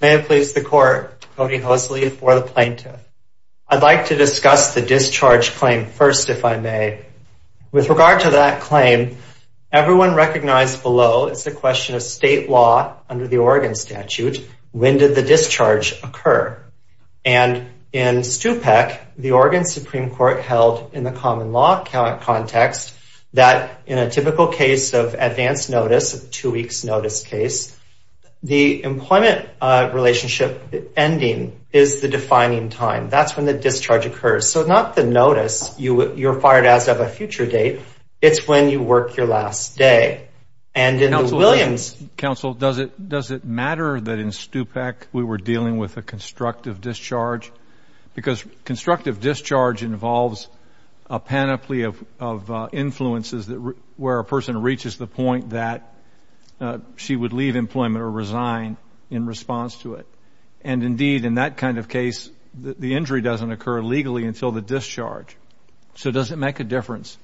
May it please the court, Cody Hosley for the plaintiff. I'd like to discuss the discharge claim first if I may. With regard to that claim everyone recognized below it's a question of state law under the Oregon statute when did the discharge occur? And in STUPEC the Oregon Supreme Court held in the common law context that in a typical case of advance notice of two weeks notice case the employment relationship ending is the defining time that's when the discharge occurs. So not the notice you you're fired as of a future date it's when you work your last day. And in the Williams... Counsel does it does it matter that in STUPEC we were dealing with a constructive discharge? Because influences that where a person reaches the point that she would leave employment or resign in response to it. And indeed in that kind of case the injury doesn't occur legally until the discharge. So does it make a difference?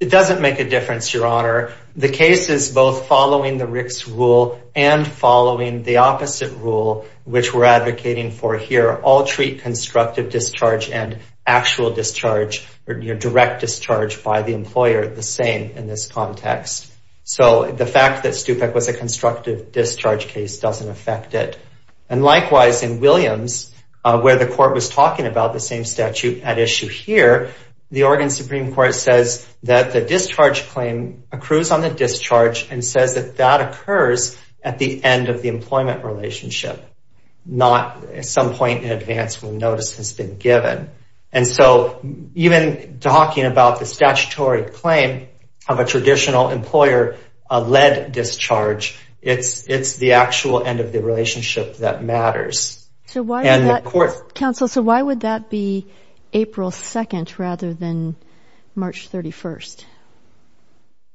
It doesn't make a difference your honor. The case is both following the Rick's rule and following the opposite rule which we're advocating for here. All So the fact that STUPEC was a constructive discharge case doesn't affect it. And likewise in Williams where the court was talking about the same statute at issue here the Oregon Supreme Court says that the discharge claim accrues on the discharge and says that that occurs at the end of the notice has been given. And so even talking about the statutory claim of a traditional employer a lead discharge it's it's the actual end of the relationship that matters. So why would that be April 2nd rather than March 31st?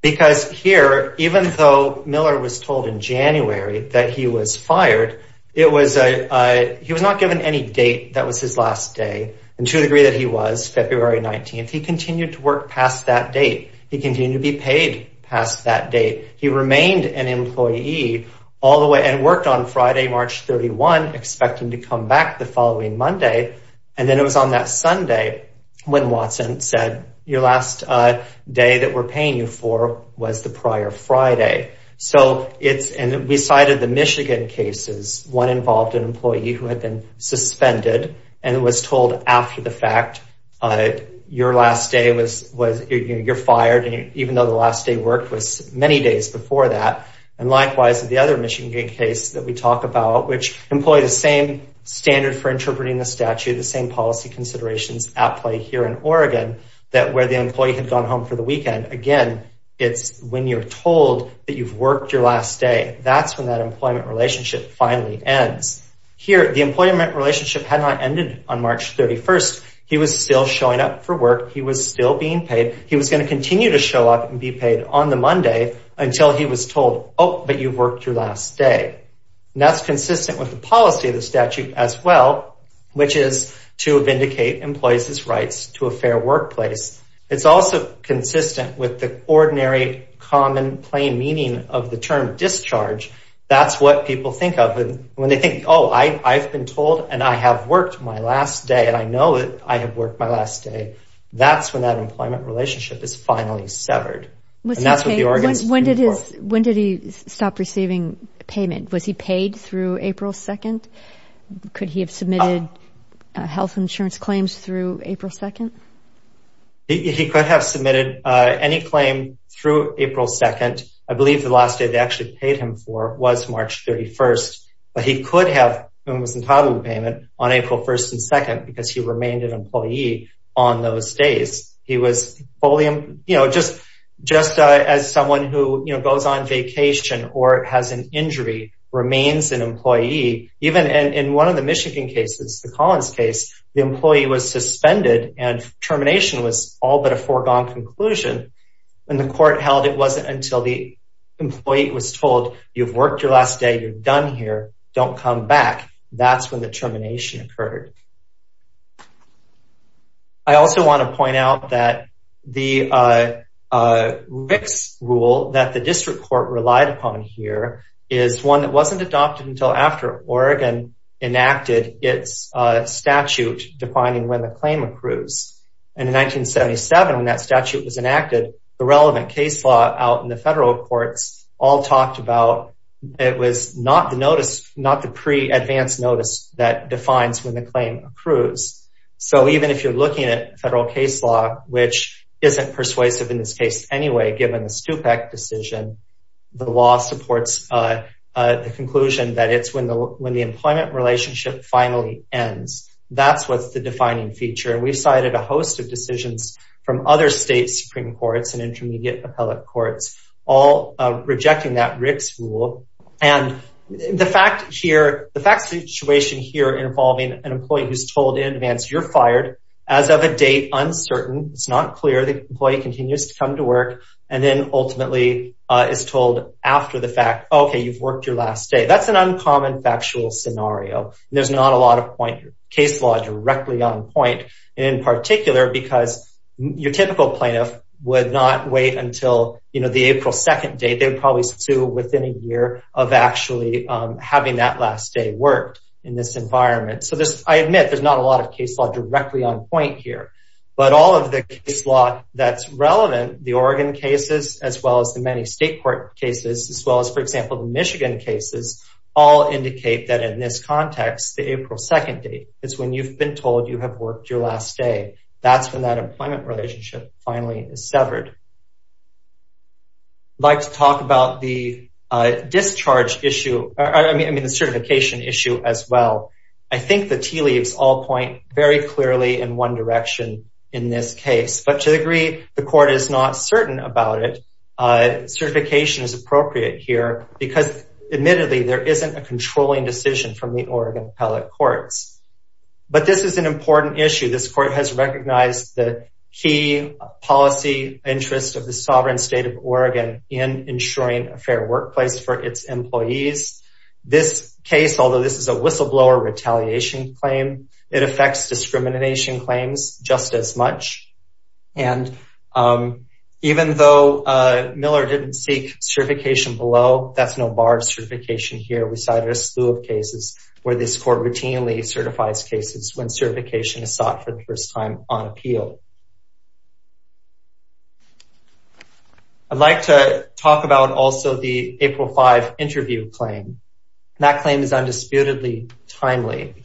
Because here even though Miller was told in January that he was fired it was a he was not given any date that was his last day. And to the degree that he was February 19th he continued to work past that date. He continued to be paid past that date. He remained an employee all the way and worked on Friday March 31 expecting to come back the following Monday. And then it was on that Sunday when Watson said your last day that we're paying you for was the prior Friday. So it's and we cited the Michigan cases one involved an employee who had been suspended and was told after the fact your last day was was you're fired and even though the last day work was many days before that. And likewise the other Michigan case that we talked about which employed the same standard for interpreting the statute the same policy considerations at play here in Oregon that where the employee had gone home for the weekend again it's when you're told that you've worked your last day that's when that employment relationship finally ends. Here the employment relationship had not ended on March 31st he was still showing up for work he was still being paid he was going to continue to show up and be paid on the Monday until he was told oh but you've worked your last day. That's consistent with the policy of the statute as well which is to vindicate employees' rights to a fair workplace. It's also consistent with the ordinary common plain meaning of the term discharge. That's what people think of when they think oh I've been told and I have worked my last day and I know it I have worked my last day. That's when that employment relationship is finally severed. When did he stop receiving payment? Was he paid through April 2nd? Could he have submitted health insurance claims through April 2nd? He could have submitted any claim through April 2nd. I believe the last day they actually paid him for was March 31st but he could have been entitled to payment on April 1st and 2nd because he remained an employee on those days. He was fully you know just just as someone who you know goes on vacation or has an injury remains an employee even in one of the employee was suspended and termination was all but a foregone conclusion and the court held it wasn't until the employee was told you've worked your last day you're done here don't come back. That's when the termination occurred. I also want to point out that the RICS rule that the district court relied upon here is one that wasn't adopted until after Oregon enacted its statute defining when the claim accrues. In 1977 when that statute was enacted the relevant case law out in the federal courts all talked about it was not the notice not the pre-advanced notice that defines when the claim accrues. So even if you're looking at federal case law which isn't persuasive in this case anyway given the STUPEC decision the law supports the conclusion that it's when the employment relationship finally ends. That's what's the defining feature. We cited a host of decisions from other state Supreme Courts and intermediate appellate courts all rejecting that RICS rule and the fact here the fact situation here involving an employee who's told in advance you're fired as of a date uncertain it's not clear the employee continues to come to work and then ultimately is told after the fact okay you've worked your last day that's an uncommon factual scenario there's not a lot of point case law directly on point in particular because your typical plaintiff would not wait until you know the April 2nd date they would probably sue within a year of actually having that last day worked in this environment. So this I admit there's not a lot of case law directly on point here but all of the case law that's relevant the Oregon cases as well as the many state court cases as well as for example the all indicate that in this context the April 2nd date it's when you've been told you have worked your last day that's when that employment relationship finally is severed. I'd like to talk about the discharge issue I mean the certification issue as well I think the tea leaves all point very clearly in one direction in this case but to the degree the court is not certain about it certification is appropriate here because admittedly there isn't a controlling decision from the Oregon appellate courts but this is an important issue this court has recognized the key policy interest of the sovereign state of Oregon in ensuring a fair workplace for its employees this case although this is a whistleblower retaliation claim it Miller didn't seek certification below that's no bar of certification here we cited a slew of cases where this court routinely certifies cases when certification is sought for the first time on appeal. I'd like to talk about also the April 5 interview claim that claim is undisputedly timely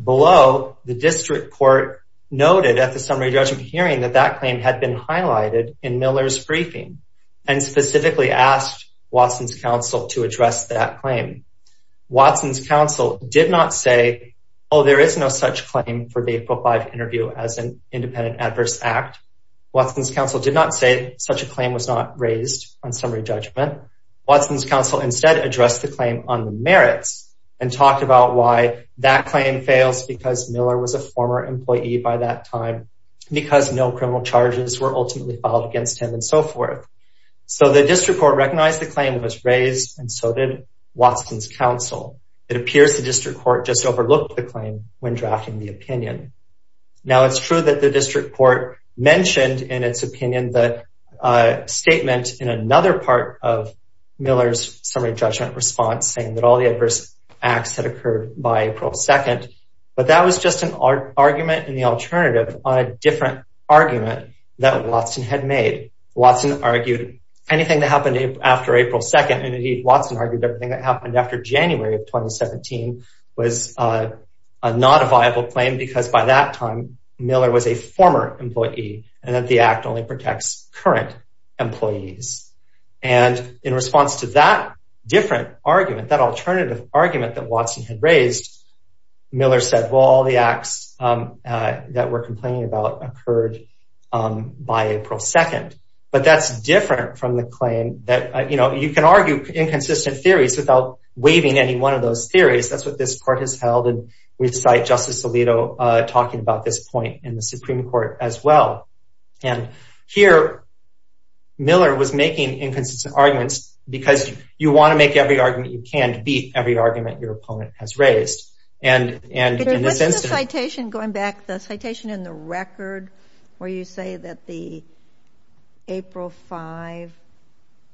below the district court noted at the summary judgment hearing that that claim had been highlighted in Miller's briefing and specifically asked Watson's counsel to address that claim. Watson's counsel did not say oh there is no such claim for the April 5 interview as an independent adverse act. Watson's counsel did not say such a claim was not raised on summary judgment. Watson's counsel instead addressed the claim on the merits and talked about why that claim fails because Miller was a former employee by that time because no charges were ultimately filed against him and so forth. So the district court recognized the claim was raised and so did Watson's counsel. It appears the district court just overlooked the claim when drafting the opinion. Now it's true that the district court mentioned in its opinion that statement in another part of Miller's summary judgment response saying that all the adverse acts had occurred by April 2nd but that was just an argument in the alternative on a different argument that Watson had made. Watson argued anything that happened after April 2nd and indeed Watson argued everything that happened after January of 2017 was not a viable claim because by that time Miller was a former employee and that the act only protects current employees and in response to that different argument that alternative argument that Watson had raised Miller said all the acts that were complaining about occurred by April 2nd but that's different from the claim that you know you can argue inconsistent theories without waiving any one of those theories that's what this court has held and we cite Justice Alito talking about this point in the Supreme Court as well and here Miller was making inconsistent arguments because you want to make every argument your opponent has raised. Going back, the citation in the record where you say that the April 5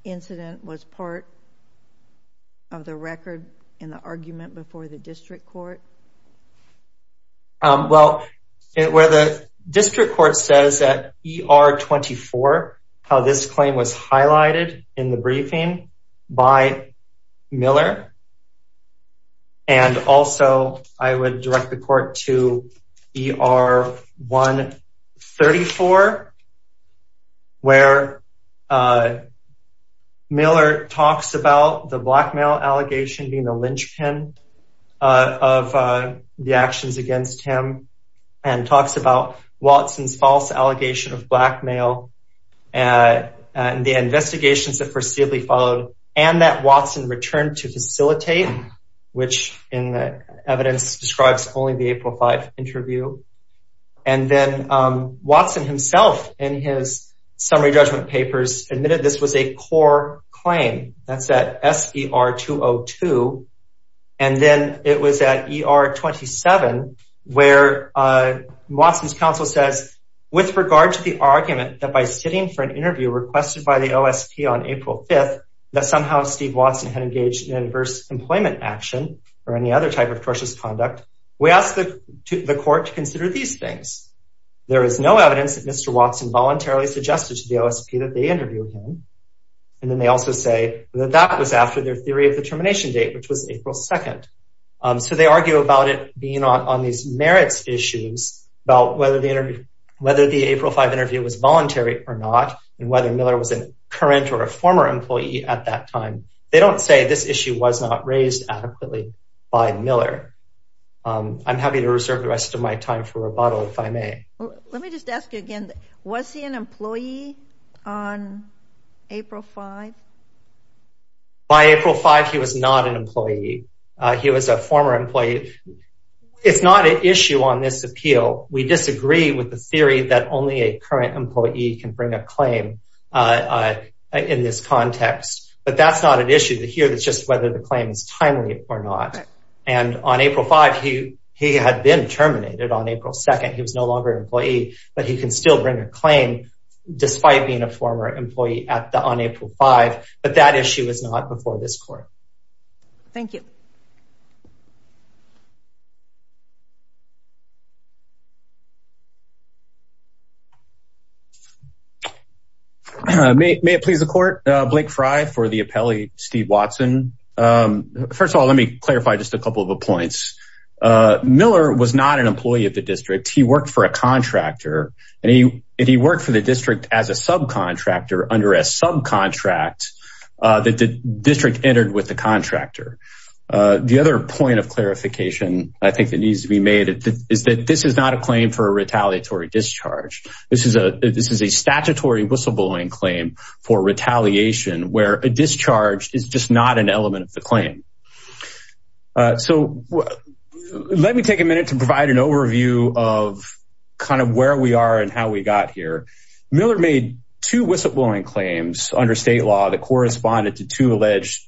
incident was part of the record in the argument before the district court? Well where the district court says that ER 24 how this claim was highlighted in the briefing by Miller and also I would direct the court to ER 134 where Miller talks about the blackmail allegation being a linchpin of the actions against him and talks about Watson's false allegation of blackmail and the investigations that foreseeably followed and that Watson returned to facilitate which in the evidence describes only the April 5 interview and then Watson himself in his summary judgment papers admitted this was a core claim. That's at SER 202 and then it was at ER 27 where Watson's counsel says with regard to the argument that by sitting for an interview requested by the OSP on April 5th that somehow Steve Watson had engaged in adverse employment action or any other type of tortious conduct we ask the court to consider these things. There is no evidence that Mr. Watson voluntarily suggested to the OSP that they interviewed him and then they also say that that was after their theory of the termination date which was April 2nd. So they argue about it being on these merits issues about whether the April 5 interview was voluntary or not and whether Miller was a current or a former employee at that time. They don't say this issue was not raised adequately by Miller. I'm happy to reserve the rest of my time for rebuttal if I may. Let me just ask you again, was he an employee on April 5? By April 5 he was not an employee. He was a former employee. It's not an issue on this appeal. We disagree with the theory that only a current employee can bring a claim. In this context, but that's not an issue here. It's just whether the claim is timely or not. And on April 5 he had been terminated on April 2nd. He was no longer an employee, but he can still bring a claim despite being a former employee on April 5. But that issue is not before this court. Thank you. May it please the court, Blake Fry for the appellee, Steve Watson. First of all, let me clarify just a couple of points. Miller was not an employee of the district. He worked for a contractor and he worked for the district as a subcontractor under a subcontract that the district entered with the contractor. The other point of clarification I think that needs to be made is that this is not a claim for a retaliatory discharge. This is a statutory whistleblowing claim for retaliation where a discharge is just not an element of the claim. So let me take a minute to provide an overview of kind of where we are and how we got here. Miller made two whistleblowing claims under state law that corresponded to two alleged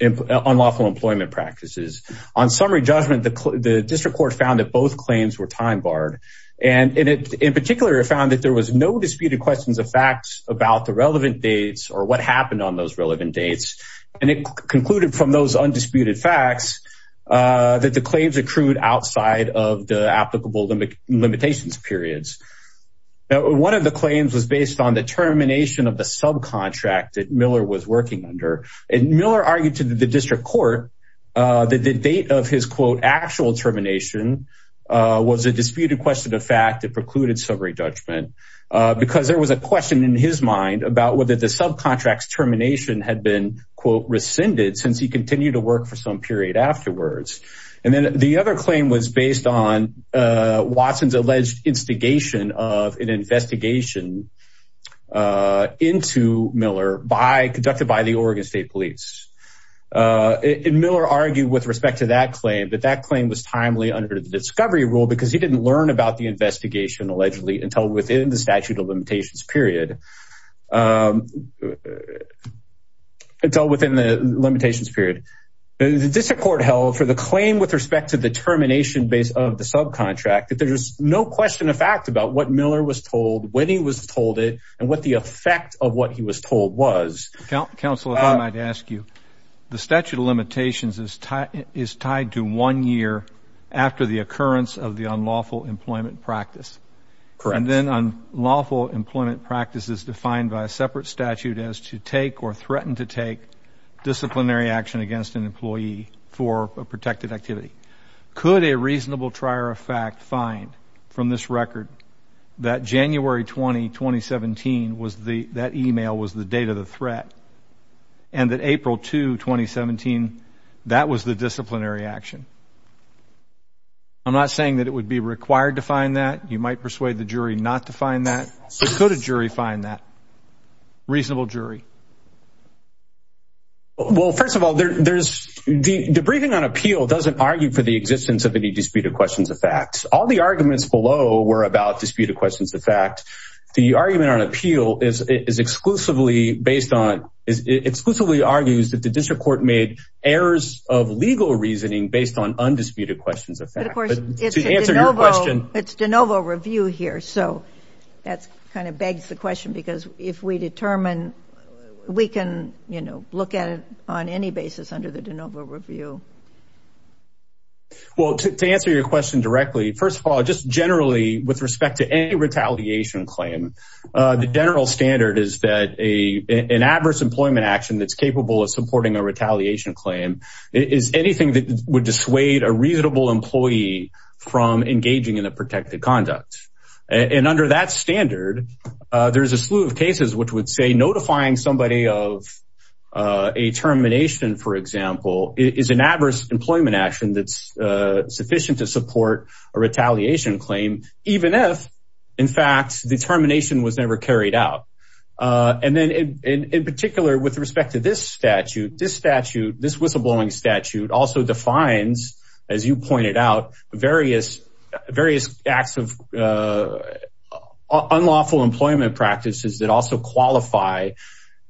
unlawful employment practices. On summary judgment, the district court found that both claims were time barred. And in particular, it found that there was no disputed questions of facts about the relevant dates or what happened on those relevant dates. And it concluded from those undisputed facts that the claims accrued outside of the applicable limitations periods. One of the claims was based on the termination of the subcontract that Miller was working under. And Miller argued to the district court that the date of his quote actual termination was a disputed question of fact that precluded summary judgment because there was a question in his mind about whether the subcontracts termination had been quote rescinded since he continued to work for some period afterwards. And then the other claim was based on Watson's alleged instigation of an investigation into Miller conducted by the Oregon State Police. Miller argued with respect to that claim that that claim was timely under the discovery rule because he didn't learn about the investigation allegedly until within the statute of limitations period. The district court held for the claim with respect to the termination base of the subcontract that there's no question of fact about what Miller was told when he was told it and what the effect of what he was told was. Counsel, if I might ask you, the statute of limitations is tied to one year after the occurrence of the unlawful employment practice. Correct. And then unlawful employment practice is defined by a separate statute as to take or threaten to take disciplinary action against an employee for a protected activity. Could a reasonable trier of fact find from this record that January 20, 2017, was the that email was the date of the threat and that April 2, 2017, that was the disciplinary action? I'm not saying that it would be required to find that. You might persuade the jury not to find that. So could a jury find that reasonable jury? Well, first of all, there's the briefing on appeal doesn't argue for the existence of any disputed questions of facts. All the arguments below were about disputed questions. The fact the argument on appeal is exclusively based on is exclusively argues that the district court made errors of legal reasoning based on undisputed questions. Answer your question. It's DeNovo review here. So that's kind of begs the question, because if we determine we can look at it on any basis under the DeNovo review. Well, to answer your question directly, first of all, just generally, with respect to any retaliation claim, the general standard is that a an adverse employment action that's capable of supporting a retaliation claim is anything that would dissuade a reasonable employer. Employee from engaging in a protected conduct. And under that standard, there's a slew of cases which would say notifying somebody of a termination, for example, is an adverse employment action that's sufficient to support a retaliation claim. Even if, in fact, determination was never carried out. And then in particular, with respect to this statute, this statute, this whistleblowing statute also defines, as you pointed out, various various acts of unlawful employment practices that also qualify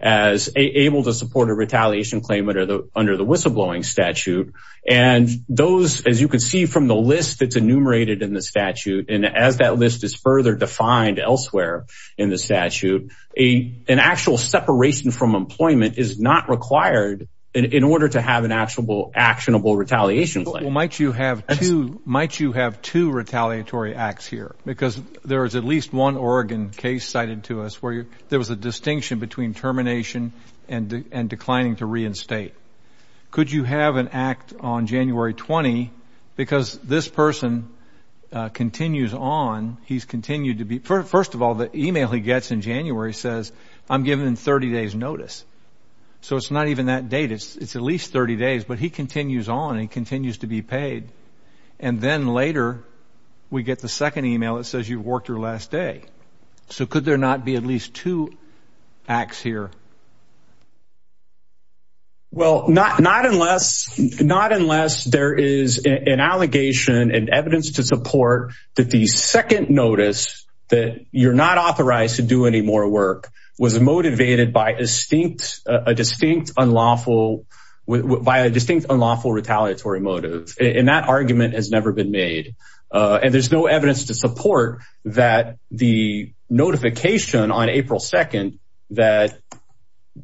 as able to support a retaliation claim under the under the whistleblowing statute. And those, as you can see from the list that's enumerated in the statute, and as that list is further defined elsewhere in the statute, a an actual separation from employment is not required in order to have an actual actionable retaliation. Well, might you have two might you have two retaliatory acts here? Because there is at least one Oregon case cited to us where there was a distinction between termination and declining to reinstate. Could you have an act on January 20? Because this person continues on. He's continued to be. First of all, the email he gets in January says I'm given 30 days notice. So it's not even that date. It's at least 30 days. But he continues on and continues to be paid. And then later we get the second email that says you've worked your last day. So could there not be at least two acts here? Well, not not unless not unless there is an allegation and evidence to support that the second notice that you're not authorized to do any more work was motivated by a distinct a distinct unlawful by a distinct unlawful retaliatory motive. And that argument has never been made. And there's no evidence to support that the notification on April 2nd that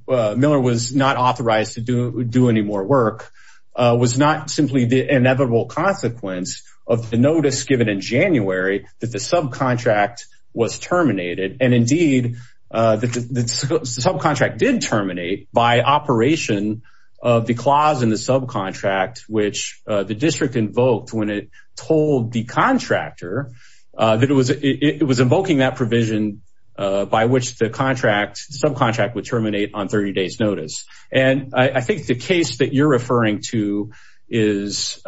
Miller was not authorized to do do any more work was not simply the inevitable consequence of the notice given in January that the subcontract was terminated. And indeed, the subcontract did terminate by operation of the clause in the subcontract, which the district invoked when it told the contractor that it was it was invoking that provision by which the contract subcontract would terminate on 30 days notice. And I think the case that you're referring to is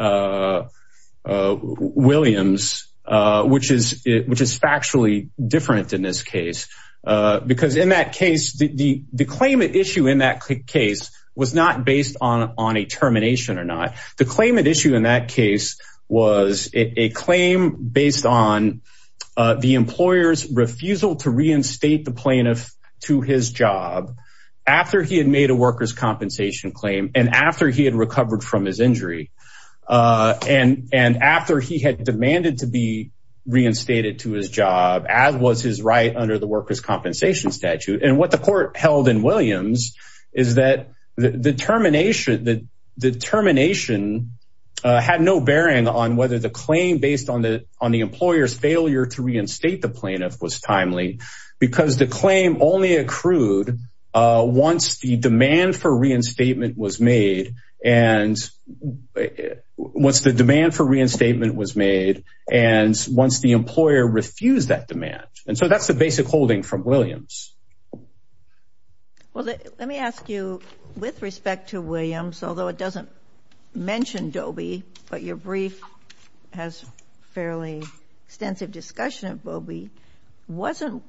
Williams, which is which is factually different in this case, because in that case, the claimant issue in that case was not based on on a termination or not. The claimant issue in that case was a claim based on the employer's refusal to reinstate the plaintiff to his job after he had made a workers' compensation claim and after he had recovered from his injury and and after he had demanded to be reinstated to his job as was his right under the workers' compensation statute. And what the court held in Williams is that the termination that the termination had no bearing on whether the claim based on the on the employer's failure to reinstate the plaintiff was timely because the claim only accrued once the demand for reinstatement was made and once the demand for reinstatement was made and once the employer refused that demand. And so that's the basic holding from Williams. Well, let me ask you, with respect to Williams, although it doesn't mention Dobie, but your brief has fairly extensive discussion of Bobie, wasn't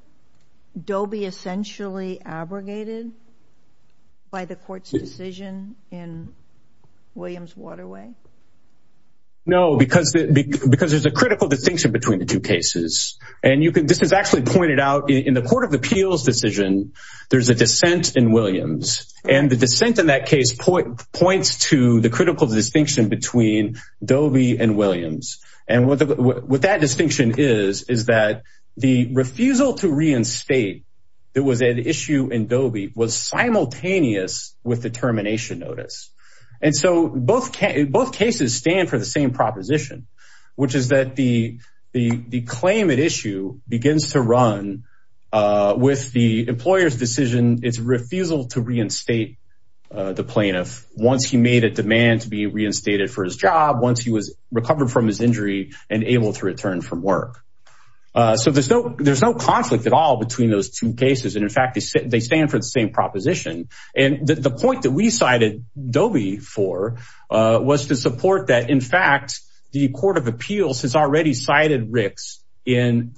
Dobie essentially abrogated by the court's decision in Williams Waterway? No, because there's a critical distinction between the two cases. And this is actually pointed out in the court of appeals decision. There's a dissent in Williams and the dissent in that case points to the critical distinction between Dobie and Williams. And what that distinction is, is that the refusal to reinstate there was an issue in Dobie was simultaneous with the termination notice. And so both cases stand for the same proposition, which is that the claim at issue begins to run with the employer's decision. It's refusal to reinstate the plaintiff once he made a demand to be reinstated for his job, once he was recovered from his injury and able to return from work. So there's no there's no conflict at all between those two cases. And in fact, they stand for the same proposition. And the point that we cited Dobie for was to support that. In fact, the court of appeals has already cited Rick's in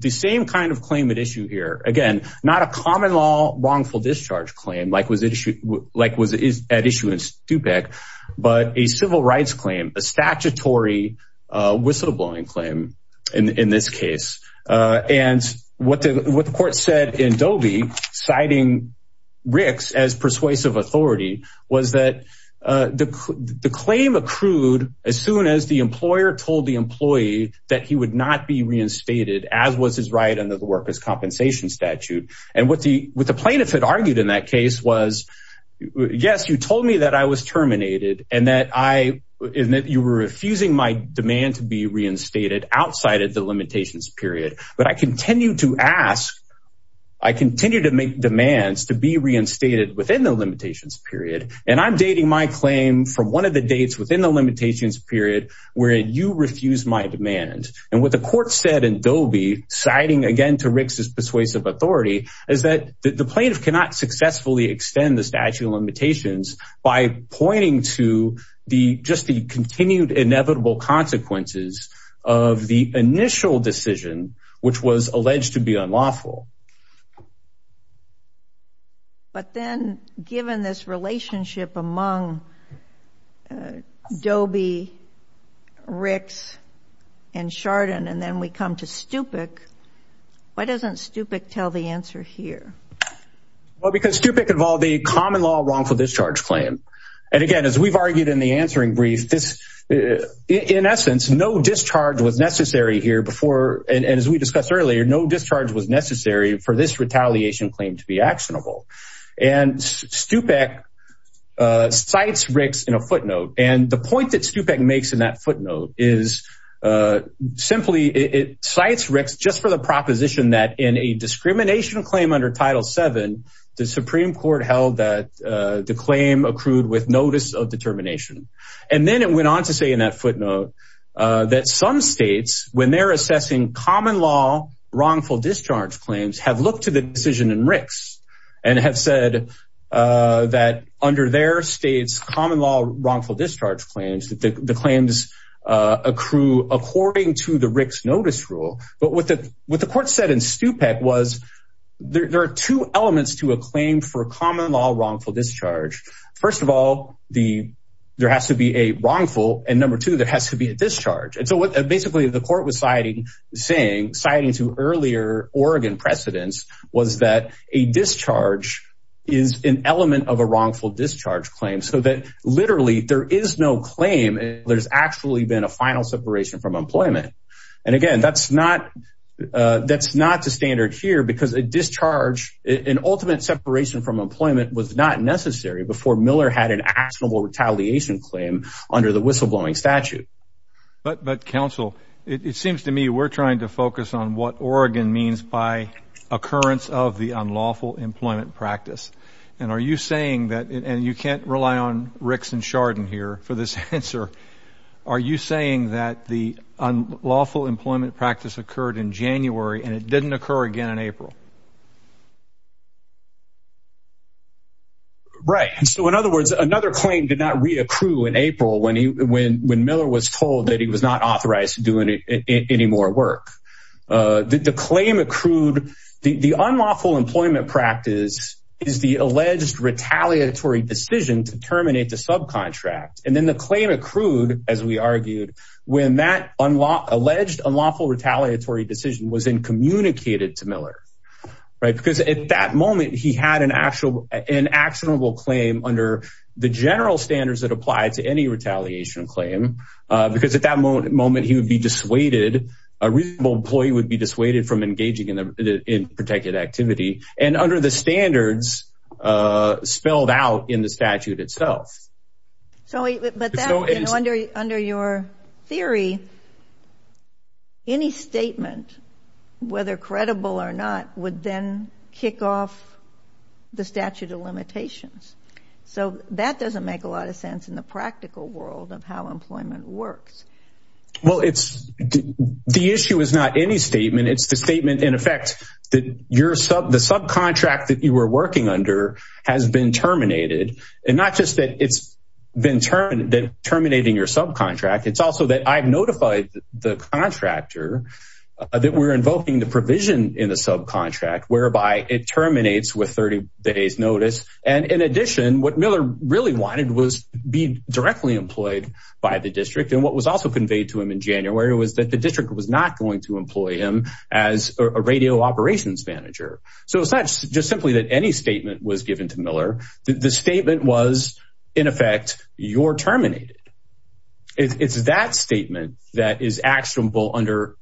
the same kind of claim at issue here. Again, not a common law wrongful discharge claim like was it like was at issue in DuPec, but a civil rights claim, a statutory whistleblowing claim in this case. And what the court said in Dobie, citing Rick's as persuasive authority, was that the claim accrued as soon as the employer told the employee that he would not be reinstated as was his right under the workers' compensation statute. And what the plaintiff had argued in that case was, yes, you told me that I was terminated and that you were refusing my demand to be reinstated outside of the limitations period. But I continue to ask, I continue to make demands to be reinstated within the limitations period. And I'm dating my claim from one of the dates within the limitations period where you refused my demand. And what the court said in Dobie, citing again to Rick's persuasive authority, is that the plaintiff cannot successfully extend the statute of limitations by pointing to just the continued inevitable consequences of the initial decision, which was alleged to be unlawful. But then given this relationship among Dobie, Rick's, and Chardon, and then we come to Stupik, why doesn't Stupik tell the answer here? Well, because Stupik involved a common law wrongful discharge claim. And again, as we've argued in the answering brief, in essence, no discharge was necessary here before. And as we discussed earlier, no discharge was necessary for this retaliation claim to be actionable. And Stupik cites Rick's in a footnote. And the point that Stupik makes in that footnote is simply it cites Rick's just for the proposition that in a discrimination claim under Title VII, the Supreme Court held that the claim accrued with notice of determination. And then it went on to say in that footnote that some states, when they're assessing common law wrongful discharge claims, have looked to the decision in Rick's and have said that under their state's common law wrongful discharge claims, that the claims accrue according to the Rick's notice rule. But what the court said in Stupik was there are two elements to a claim for common law wrongful discharge. First of all, there has to be a wrongful, and number two, there has to be a discharge. And so what basically the court was citing to earlier Oregon precedents was that a discharge is an element of a wrongful discharge claim so that literally there is no claim. There's actually been a final separation from employment. And again, that's not that's not the standard here because a discharge, an ultimate separation from employment was not necessary before Miller had an actionable retaliation claim under the whistleblowing statute. But but counsel, it seems to me we're trying to focus on what Oregon means by occurrence of the unlawful employment practice. And are you saying that and you can't rely on Rick's and Chardon here for this answer? Are you saying that the unlawful employment practice occurred in January and it didn't occur again in April? Right. And so, in other words, another claim did not reaccrue in April when he when when Miller was told that he was not authorized to do any more work, the claim accrued the unlawful employment practice is the alleged retaliatory decision to terminate the subcontract. And then the claim accrued, as we argued, when that unlawful alleged unlawful retaliatory decision was in communicated to Miller. Right. Because at that moment, he had an actual an actionable claim under the general standards that apply to any retaliation claim, because at that moment, he would be dissuaded. A reasonable employee would be dissuaded from engaging in protected activity and under the standards spelled out in the statute itself. So but under under your theory, any statement, whether credible or not, would then kick off the statute of limitations. So that doesn't make a lot of sense in the practical world of how employment works. Well, it's the issue is not any statement. It's the statement, in effect, that your sub the subcontract that you were working under has been terminated. And not just that it's been terminated, terminating your subcontract. It's also that I've notified the contractor that we're invoking the provision in the subcontract, whereby it terminates with 30 days notice. And in addition, what Miller really wanted was be directly employed by the district. And what was also conveyed to him in January was that the district was not going to employ him as a radio operations manager. So it's not just simply that any statement was given to Miller. The statement was, in effect, you're terminated. It's that statement that is actionable under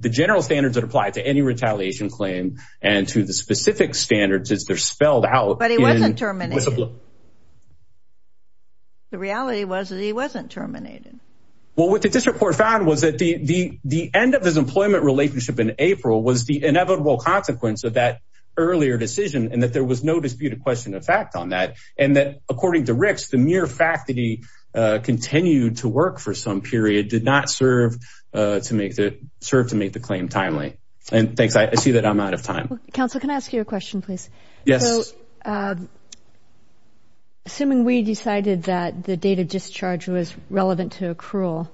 the general standards that apply to any retaliation claim and to the specific standards as they're spelled out. But he wasn't terminated. The reality was that he wasn't terminated. Well, what the district court found was that the end of his employment relationship in April was the inevitable consequence of that earlier decision and that there was no disputed question of fact on that. And that, according to Rick's, the mere fact that he continued to work for some period did not serve to make the serve to make the claim timely. And thanks. I see that I'm out of time. Counsel, can I ask you a question, please? Yes. Assuming we decided that the date of discharge was relevant to accrual,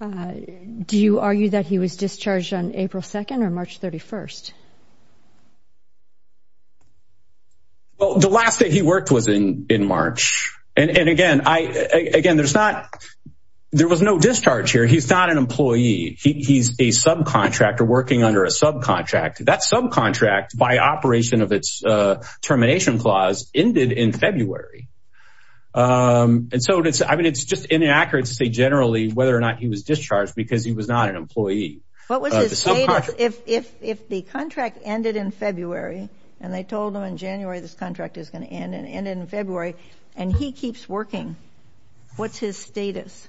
do you argue that he was discharged on April 2nd or March 31st? Well, the last day he worked was in in March. And again, I again, there's not there was no discharge here. He's not an employee. He's a subcontractor working under a subcontractor. That subcontract by operation of its termination clause ended in February. And so it's I mean, it's just inaccurate to say generally whether or not he was discharged because he was not an employee. What was if if if the contract ended in February and they told him in January, this contract is going to end and end in February and he keeps working? What's his status?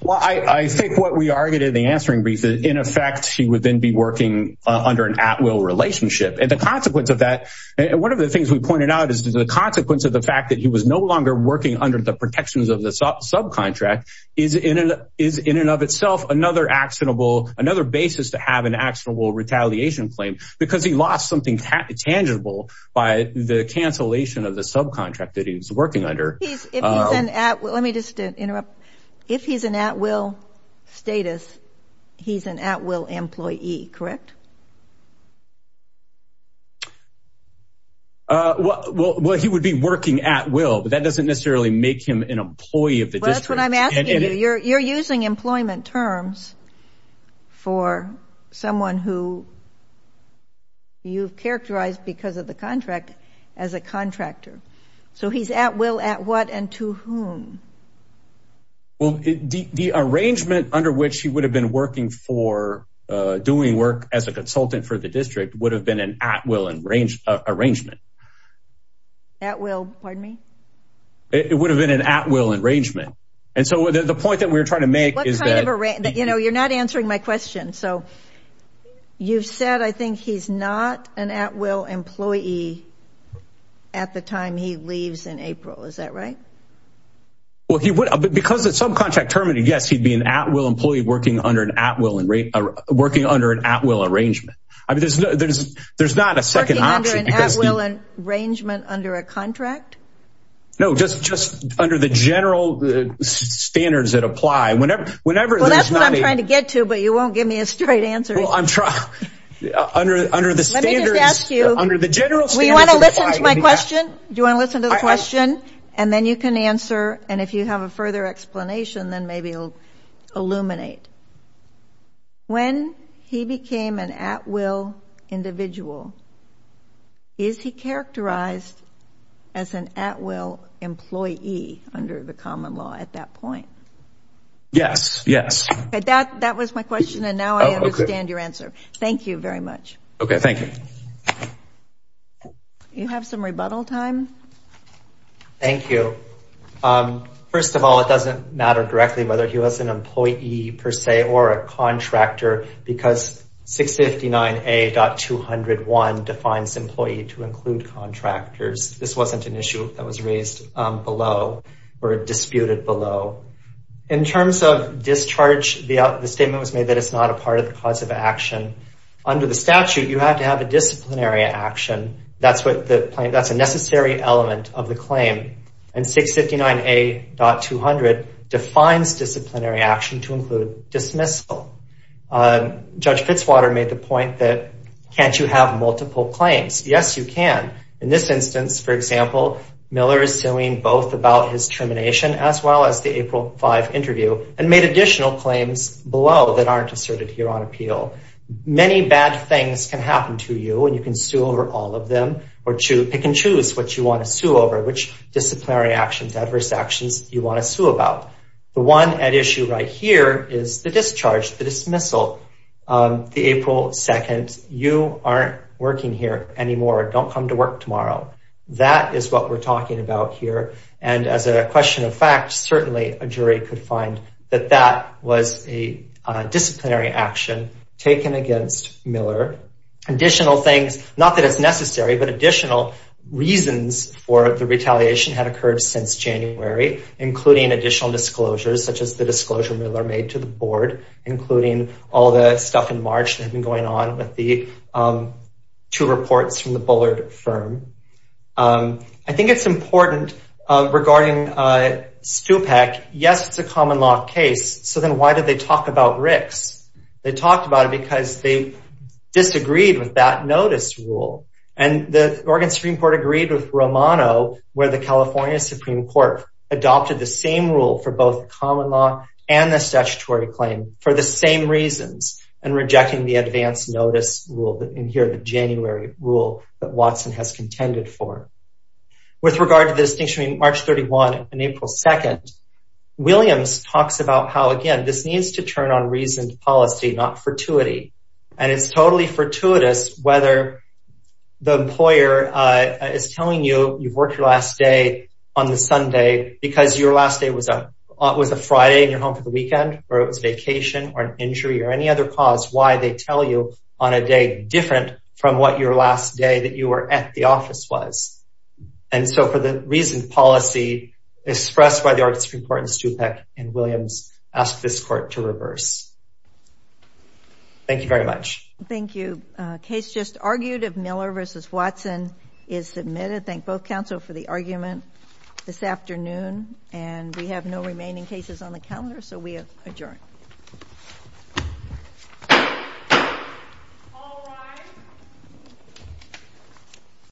Well, I think what we argued in the answering brief is, in effect, he would then be working under an at will relationship and the consequence of that. And one of the things we pointed out is the consequence of the fact that he was no longer working under the protections of the subcontract is in is in and of itself another actionable, another basis to have an actionable retaliation claim because he lost something tangible by the cancellation of the subcontract that he was working under. He's an at. Let me just interrupt. If he's an at will status, he's an at will employee. Correct. Well, he would be working at will, but that doesn't necessarily make him an employee of the district. That's what I'm asking. You're you're using employment terms for someone who you've characterized because of the contract as a contractor. So he's at will at what and to whom? Well, the arrangement under which he would have been working for doing work as a consultant for the district would have been an at will and range arrangement. At will. Pardon me. It would have been an at will arrangement. And so the point that we're trying to make is that, you know, you're not answering my question. So you've said, I think he's not an at will employee at the time he leaves in April. Is that right? Well, he would because it's subcontract terminated. Yes, he'd be an at will employee working under an at will and working under an at will arrangement. I mean, there's there's there's not a second option. Well, an arrangement under a contract. No, just just under the general standards that apply whenever whenever. Well, that's what I'm trying to get to, but you won't give me a straight answer. I'm trying under under the standards under the general. We want to listen to my question. Do you want to listen to the question? And then you can answer. And if you have a further explanation, then maybe you'll illuminate when he became an at will individual. Is he characterized as an at will employee under the common law at that point? Yes, yes. That that was my question, and now I understand your answer. Thank you very much. OK, thank you. You have some rebuttal time. Thank you. First of all, it doesn't matter directly whether he was an employee per se or a contractor, because 659A.201 defines employee to include contractors. This wasn't an issue that was raised below or disputed below. In terms of discharge, the statement was made that it's not a part of the cause of action. Under the statute, you have to have a disciplinary action. That's what that's a necessary element of the claim. And 659A.200 defines disciplinary action to include dismissal. Judge Fitzwater made the point that can't you have multiple claims? Yes, you can. In this instance, for example, Miller is suing both about his termination as well as the April 5 interview and made additional claims below that aren't asserted here on appeal. Many bad things can happen to you, and you can sue over all of them or pick and choose what you want to sue over, which disciplinary actions, adverse actions you want to sue about. The one at issue right here is the discharge, the dismissal, the April 2. You aren't working here anymore. Don't come to work tomorrow. That is what we're talking about here. And as a question of fact, certainly a jury could find that that was a disciplinary action taken against Miller. Additional things, not that it's necessary, but additional reasons for the retaliation had occurred since January, including additional disclosures such as the disclosure Miller made to the board, including all the stuff in March that had been going on with the two reports from the Bullard firm. I think it's important regarding Stupak. Yes, it's a common law case. So then why did they talk about Ricks? They talked about it because they disagreed with that notice rule. And the Oregon Supreme Court agreed with Romano where the California Supreme Court adopted the same rule for both common law and the statutory claim for the same reasons and rejecting the advance notice rule that in here, the January rule that Watson has contended for. With regard to the distinction between March 31 and April 2, Williams talks about how, again, this needs to turn on reasoned policy, not fortuity. And it's totally fortuitous whether the employer is telling you you've worked your last day on the Sunday because your last day was a Friday and you're home for the weekend or it was vacation or an injury or any other cause why they tell you on a day different from what your last day that you were at the office was. And so for the reason policy expressed by the Oregon Supreme Court and Stupak and Williams asked this court to reverse. Thank you very much. Thank you. Case just argued of Miller versus Watson is submitted. Thank both counsel for the argument this afternoon. And we have no remaining cases on the calendar. So we adjourn.